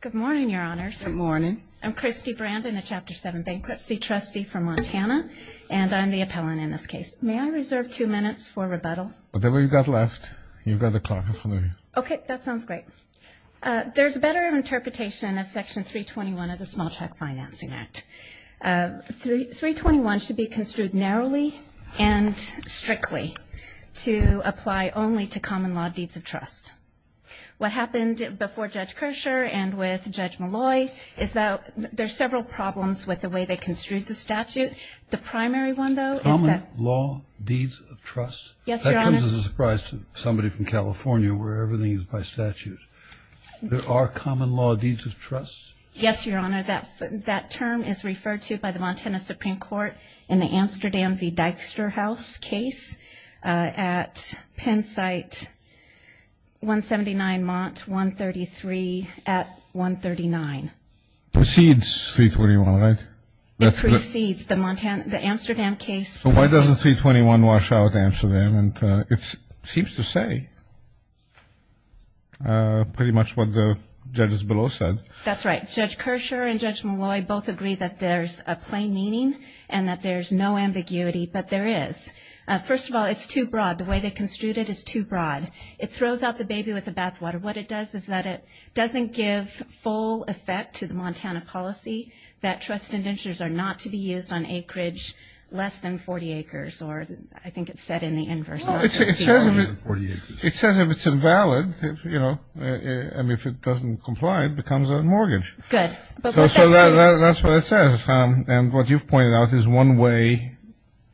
Good morning, Your Honors. Good morning. I'm Christy Brandon, a Chapter 7 bankruptcy trustee from Montana, and I'm the appellant in this case. May I reserve two minutes for rebuttal? Whatever you've got left, you've got the clerk in front of you. Okay, that sounds great. There's a better interpretation of Section 321 of the Small Check Financing Act. 321 should be construed narrowly and strictly to apply only to common law deeds of trust. What happened before Judge Kershaw and with Judge Malloy is that there's several problems with the way they construed the statute. The primary one, though, is that – Common law deeds of trust? Yes, Your Honor. That comes as a surprise to somebody from California where everything is by statute. There are common law deeds of trust? Yes, Your Honor. That term is referred to by the Montana Supreme Court in the Amsterdam v. Dijkstra House case at Penn Site 179 Mont 133 at 139. Proceeds 321, right? It precedes the Amsterdam case. Why doesn't 321 wash out Amsterdam? It seems to say pretty much what the judges below said. That's right. Judge Kershaw and Judge Malloy both agree that there's a plain meaning and that there's no ambiguity, but there is. First of all, it's too broad. The way they construed it is too broad. It throws out the baby with the bathwater. What it does is that it doesn't give full effect to the Montana policy that trust indentures are not to be used on acreage less than 40 acres, or I think it's said in the inverse. It says if it's invalid, you know, and if it doesn't comply, it becomes a mortgage. Good. So that's what it says. And what you've pointed out is one way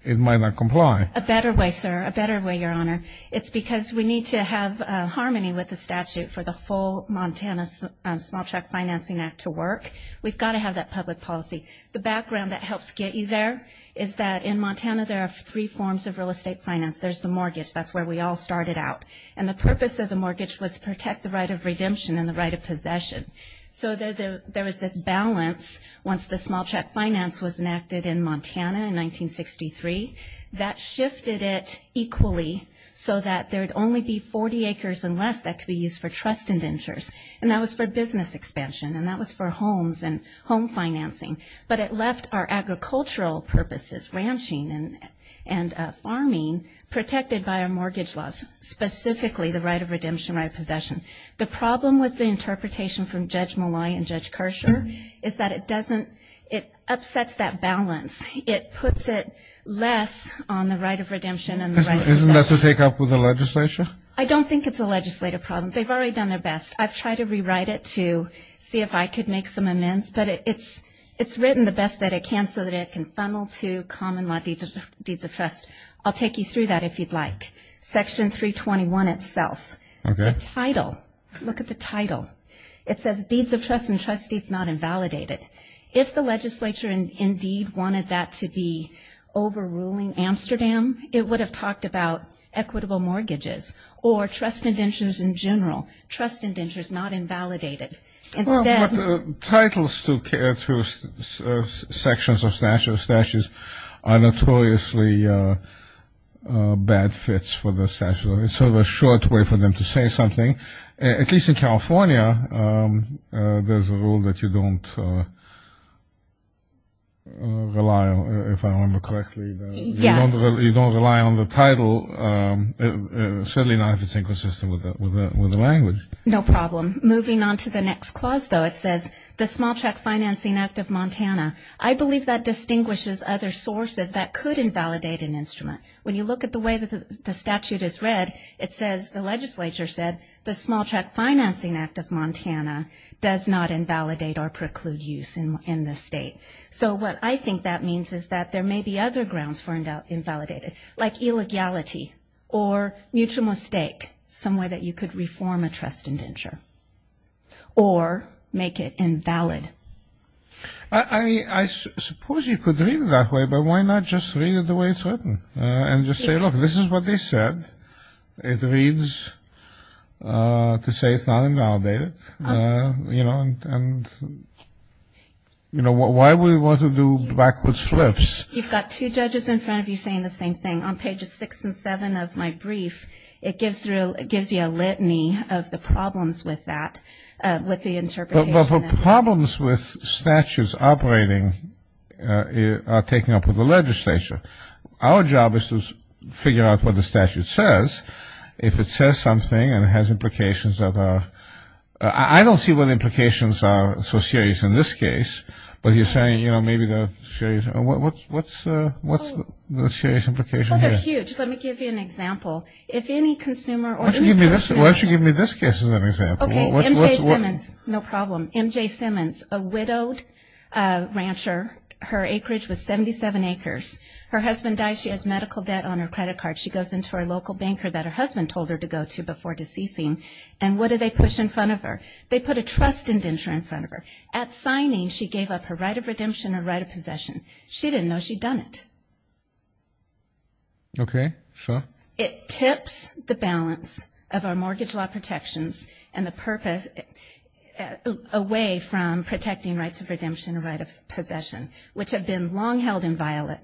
it might not comply. A better way, sir, a better way, Your Honor. It's because we need to have harmony with the statute for the full Montana Small Check Financing Act to work. We've got to have that public policy. The background that helps get you there is that in Montana there are three forms of real estate finance. There's the mortgage. That's where we all started out. And the purpose of the mortgage was to protect the right of redemption and the right of possession. So there was this balance once the small check finance was enacted in Montana in 1963. That shifted it equally so that there would only be 40 acres and less that could be used for trust indentures, and that was for business expansion, and that was for homes and home financing. But it left our agricultural purposes, ranching and farming, protected by our mortgage laws, specifically the right of redemption, right of possession. The problem with the interpretation from Judge Molloy and Judge Kershaw is that it upsets that balance. It puts it less on the right of redemption and the right of possession. Isn't that to take up with the legislature? I don't think it's a legislative problem. They've already done their best. I've tried to rewrite it to see if I could make some amends, but it's written the best that it can so that it can funnel to common law deeds of trust. I'll take you through that if you'd like. Section 321 itself, the title, look at the title. It says Deeds of Trust and Trust Deeds Not Invalidated. If the legislature indeed wanted that to be overruling Amsterdam, it would have talked about equitable mortgages or trust indentures in general, Trust Indentures Not Invalidated. But titles to sections of statutes are notoriously bad fits for the statute. It's sort of a short way for them to say something. At least in California, there's a rule that you don't rely on, if I remember correctly. You don't rely on the title, certainly not if it's inconsistent with the language. No problem. Moving on to the next clause, though, it says the Small Check Financing Act of Montana. I believe that distinguishes other sources that could invalidate an instrument. When you look at the way that the statute is read, it says, the legislature said, the Small Check Financing Act of Montana does not invalidate or preclude use in the state. So what I think that means is that there may be other grounds for invalidating, like illegality or mutual mistake, some way that you could reform a trust indenture or make it invalid. I suppose you could read it that way, but why not just read it the way it's written and just say, look, this is what they said. It reads to say it's not invalidated. And, you know, why would we want to do backwards flips? You've got two judges in front of you saying the same thing. On pages six and seven of my brief, it gives you a litany of the problems with that, with the interpretation of this. But the problems with statutes operating are taken up with the legislature. Our job is to figure out what the statute says. If it says something and it has implications that are – I don't see what the implications are so serious in this case. But you're saying, you know, maybe the serious – what's the serious implication here? Well, they're huge. Let me give you an example. If any consumer or any person – Why don't you give me this case as an example? Okay, MJ Simmons. No problem. MJ Simmons, a widowed rancher. Her acreage was 77 acres. Her husband died. She has medical debt on her credit card. She goes into her local banker that her husband told her to go to before deceasing. And what do they push in front of her? They put a trust indenture in front of her. At signing, she gave up her right of redemption and right of possession. She didn't know she'd done it. Okay, so? It tips the balance of our mortgage law protections and the purpose away from protecting rights of redemption which have been long held inviolate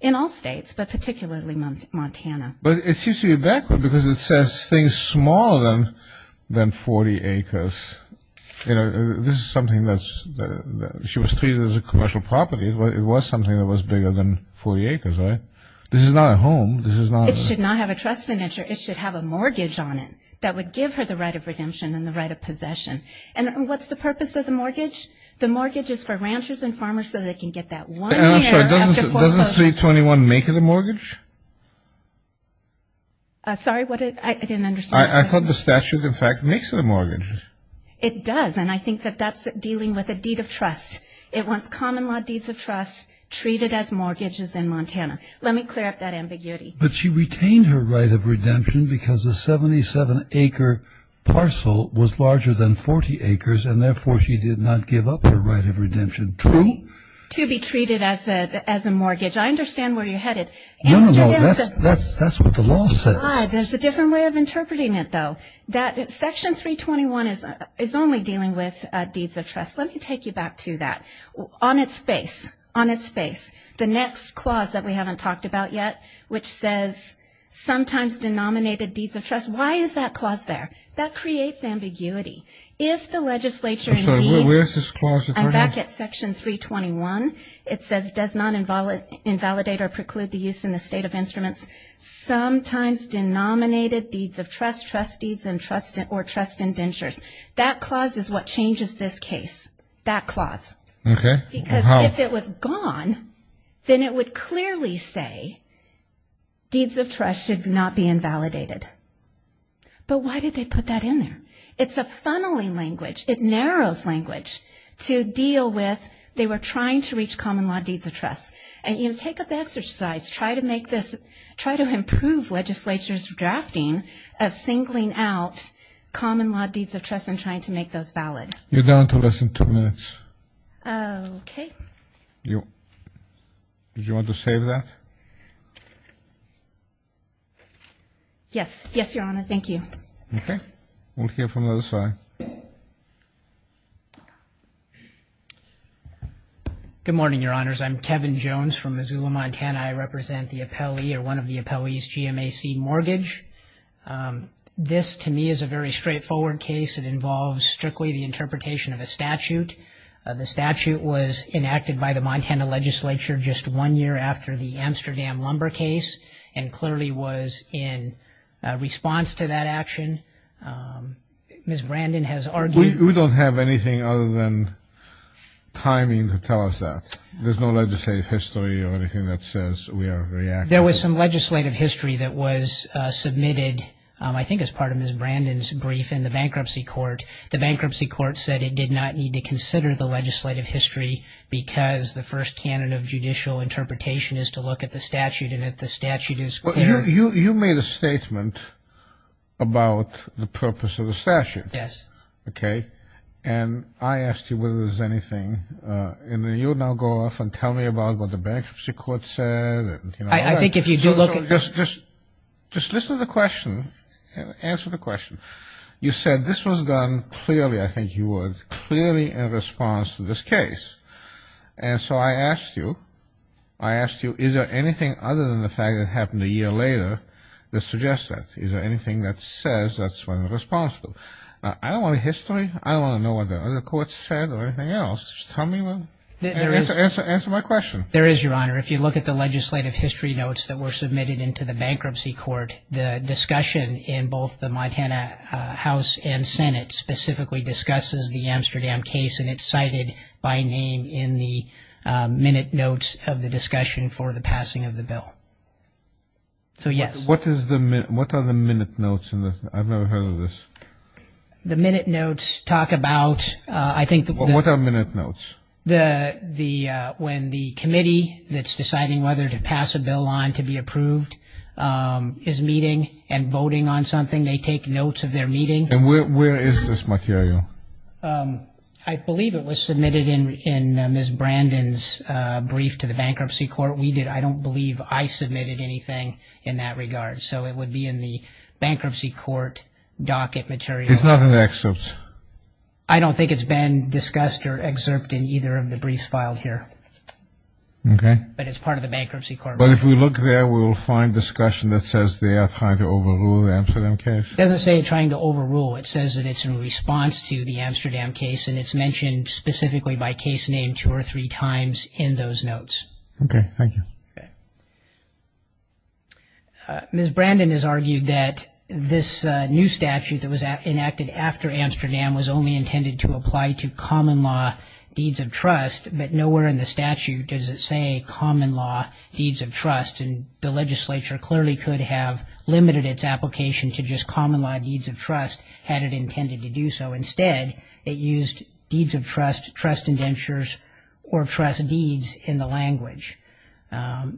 in all states, but particularly Montana. But it seems to be backward because it says things smaller than 40 acres. You know, this is something that's – she was treated as a commercial property. It was something that was bigger than 40 acres, right? This is not a home. This is not a – It should not have a trust indenture. It should have a mortgage on it that would give her the right of redemption and the right of possession. And what's the purpose of the mortgage? The mortgage is for ranchers and farmers so they can get that one year after foreclosure. I'm sorry. Doesn't 321 make it a mortgage? Sorry, what did – I didn't understand. I thought the statute, in fact, makes it a mortgage. It does, and I think that that's dealing with a deed of trust. It wants common law deeds of trust treated as mortgages in Montana. Let me clear up that ambiguity. But she retained her right of redemption because the 77-acre parcel was larger than 40 acres, and therefore she did not give up her right of redemption, true? To be treated as a mortgage. I understand where you're headed. No, no, no, that's what the law says. There's a different way of interpreting it, though. Section 321 is only dealing with deeds of trust. Let me take you back to that. On its face, on its face, the next clause that we haven't talked about yet, which says sometimes denominated deeds of trust, why is that clause there? That creates ambiguity. If the legislature indeed – I'm sorry, where is this clause? I'm back at Section 321. It says does not invalidate or preclude the use in the state of instruments, sometimes denominated deeds of trust, trust deeds, or trust indentures. That clause is what changes this case, that clause. Okay. Because if it was gone, then it would clearly say deeds of trust should not be invalidated. But why did they put that in there? It's a funneling language. It narrows language to deal with they were trying to reach common law deeds of trust. And, you know, take up the exercise. Try to make this – try to improve legislature's drafting of singling out common law deeds of trust and trying to make those valid. You're down to less than two minutes. Okay. Did you want to save that? Yes. Yes, Your Honor, thank you. Okay. We'll hear from the other side. Good morning, Your Honors. I'm Kevin Jones from Missoula, Montana. I represent the appellee or one of the appellee's GMAC mortgage. This, to me, is a very straightforward case. It involves strictly the interpretation of a statute. The statute was enacted by the Montana legislature just one year after the Amsterdam lumber case and clearly was in response to that action. Ms. Brandon has argued – We don't have anything other than timing to tell us that. There's no legislative history or anything that says we are reacting – There was some legislative history that was submitted, I think, as part of Ms. Brandon's brief in the bankruptcy court. The bankruptcy court said it did not need to consider the legislative history because the first canon of judicial interpretation is to look at the statute and if the statute is clear – You made a statement about the purpose of the statute. Yes. Okay. And I asked you whether there was anything, and then you'll now go off and tell me about what the bankruptcy court said. I think if you do look – Just listen to the question and answer the question. You said this was done clearly, I think you would, clearly in response to this case. And so I asked you, I asked you, is there anything other than the fact it happened a year later that suggests that? Is there anything that says that's what it responds to? Now, I don't want a history. I don't want to know what the other courts said or anything else. Just tell me and answer my question. There is, Your Honor. If you look at the legislative history notes that were submitted into the bankruptcy court, the discussion in both the Montana House and Senate specifically discusses the Amsterdam case and it's cited by name in the minute notes of the discussion for the passing of the bill. So, yes. What are the minute notes? I've never heard of this. The minute notes talk about, I think – What are minute notes? When the committee that's deciding whether to pass a bill on to be approved is meeting and voting on something, they take notes of their meeting. And where is this material? I believe it was submitted in Ms. Brandon's brief to the bankruptcy court. I don't believe I submitted anything in that regard. So it would be in the bankruptcy court docket material. It's not in the excerpts? I don't think it's been discussed or excerpted in either of the briefs filed here. Okay. But it's part of the bankruptcy court brief. But if we look there, we will find discussion that says they are trying to overrule the Amsterdam case. It doesn't say trying to overrule. It says that it's in response to the Amsterdam case, and it's mentioned specifically by case name two or three times in those notes. Okay. Thank you. Okay. Ms. Brandon has argued that this new statute that was enacted after Amsterdam was only intended to apply to common law deeds of trust, but nowhere in the statute does it say common law deeds of trust. And the legislature clearly could have limited its application to just common law deeds of trust had it intended to do so. Instead, it used deeds of trust, trust indentures, or trust deeds in the language.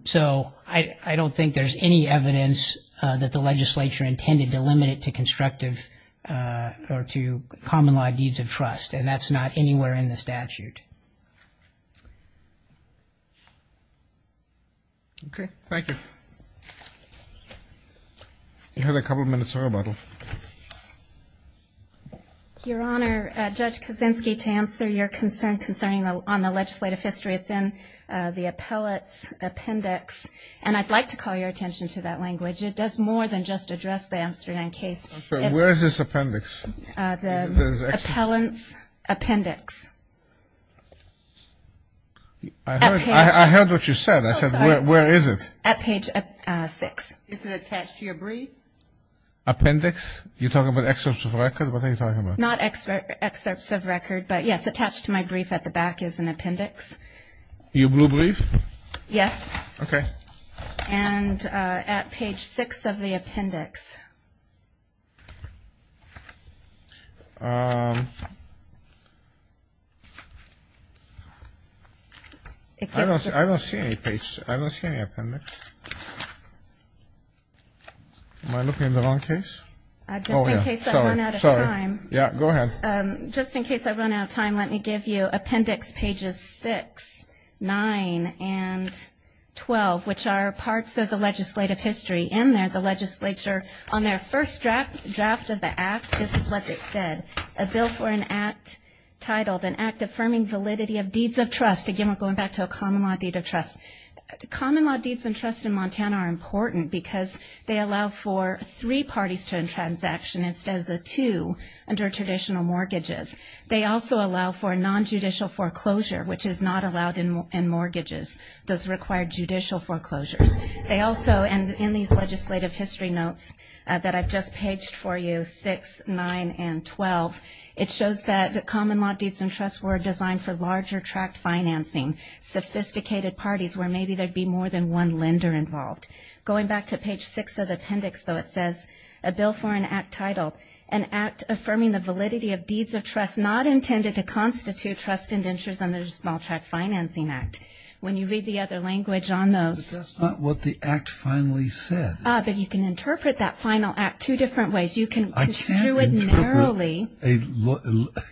So I don't think there's any evidence that the legislature intended to limit it to constructive or to common law deeds of trust, and that's not anywhere in the statute. Okay. Thank you. You have a couple of minutes to rebuttal. Your Honor, Judge Kaczynski, to answer your concern concerning on the legislative history, it's in the appellate's appendix, and I'd like to call your attention to that language. It does more than just address the Amsterdam case. I'm sorry. Where is this appendix? The appellant's appendix. I heard what you said. I said, where is it? At page six. Is it attached to your brief? Appendix? You're talking about excerpts of record? What are you talking about? Not excerpts of record, but, yes, attached to my brief at the back is an appendix. Your blue brief? Yes. Okay. And at page six of the appendix. I don't see any appendix. Am I looking at the wrong case? Just in case I run out of time. Sorry. Yeah, go ahead. Just in case I run out of time, let me give you appendix pages six, nine, and 12, which are parts of the legislative history. In there, the legislature, on their first draft of the act, this is what it said, a bill for an act titled an act affirming validity of deeds of trust. Again, we're going back to a common law deed of trust. Common law deeds of trust in Montana are important because they allow for three parties to end transaction instead of the two under traditional mortgages. They also allow for non-judicial foreclosure, which is not allowed in mortgages, those required judicial foreclosures. They also, and in these legislative history notes that I've just paged for you, six, nine, and 12, it shows that common law deeds of trust were designed for larger tract financing, sophisticated parties where maybe there'd be more than one lender involved. Going back to page six of the appendix, though, it says a bill for an act titled an act affirming the validity of deeds of trust not intended to constitute trust indentures under the Small Tract Financing Act. When you read the other language on those. That's not what the act finally said. Ah, but you can interpret that final act two different ways. You can construe it narrowly. I can't interpret.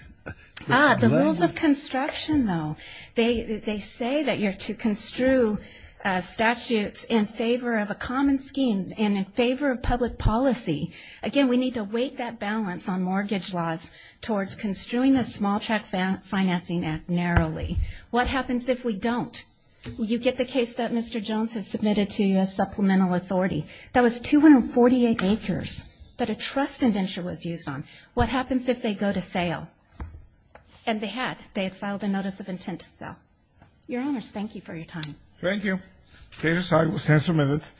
Ah, the rules of construction, though. They say that you're to construe statutes in favor of a common scheme and in favor of public policy. Again, we need to weight that balance on mortgage laws towards construing the Small Tract Financing Act narrowly. What happens if we don't? You get the case that Mr. Jones has submitted to U.S. Supplemental Authority. That was 248 acres that a trust indenture was used on. What happens if they go to sale? And they had. They had filed a notice of intent to sell. Your Honors, thank you for your time. Thank you. Case decided. We'll stand for a minute.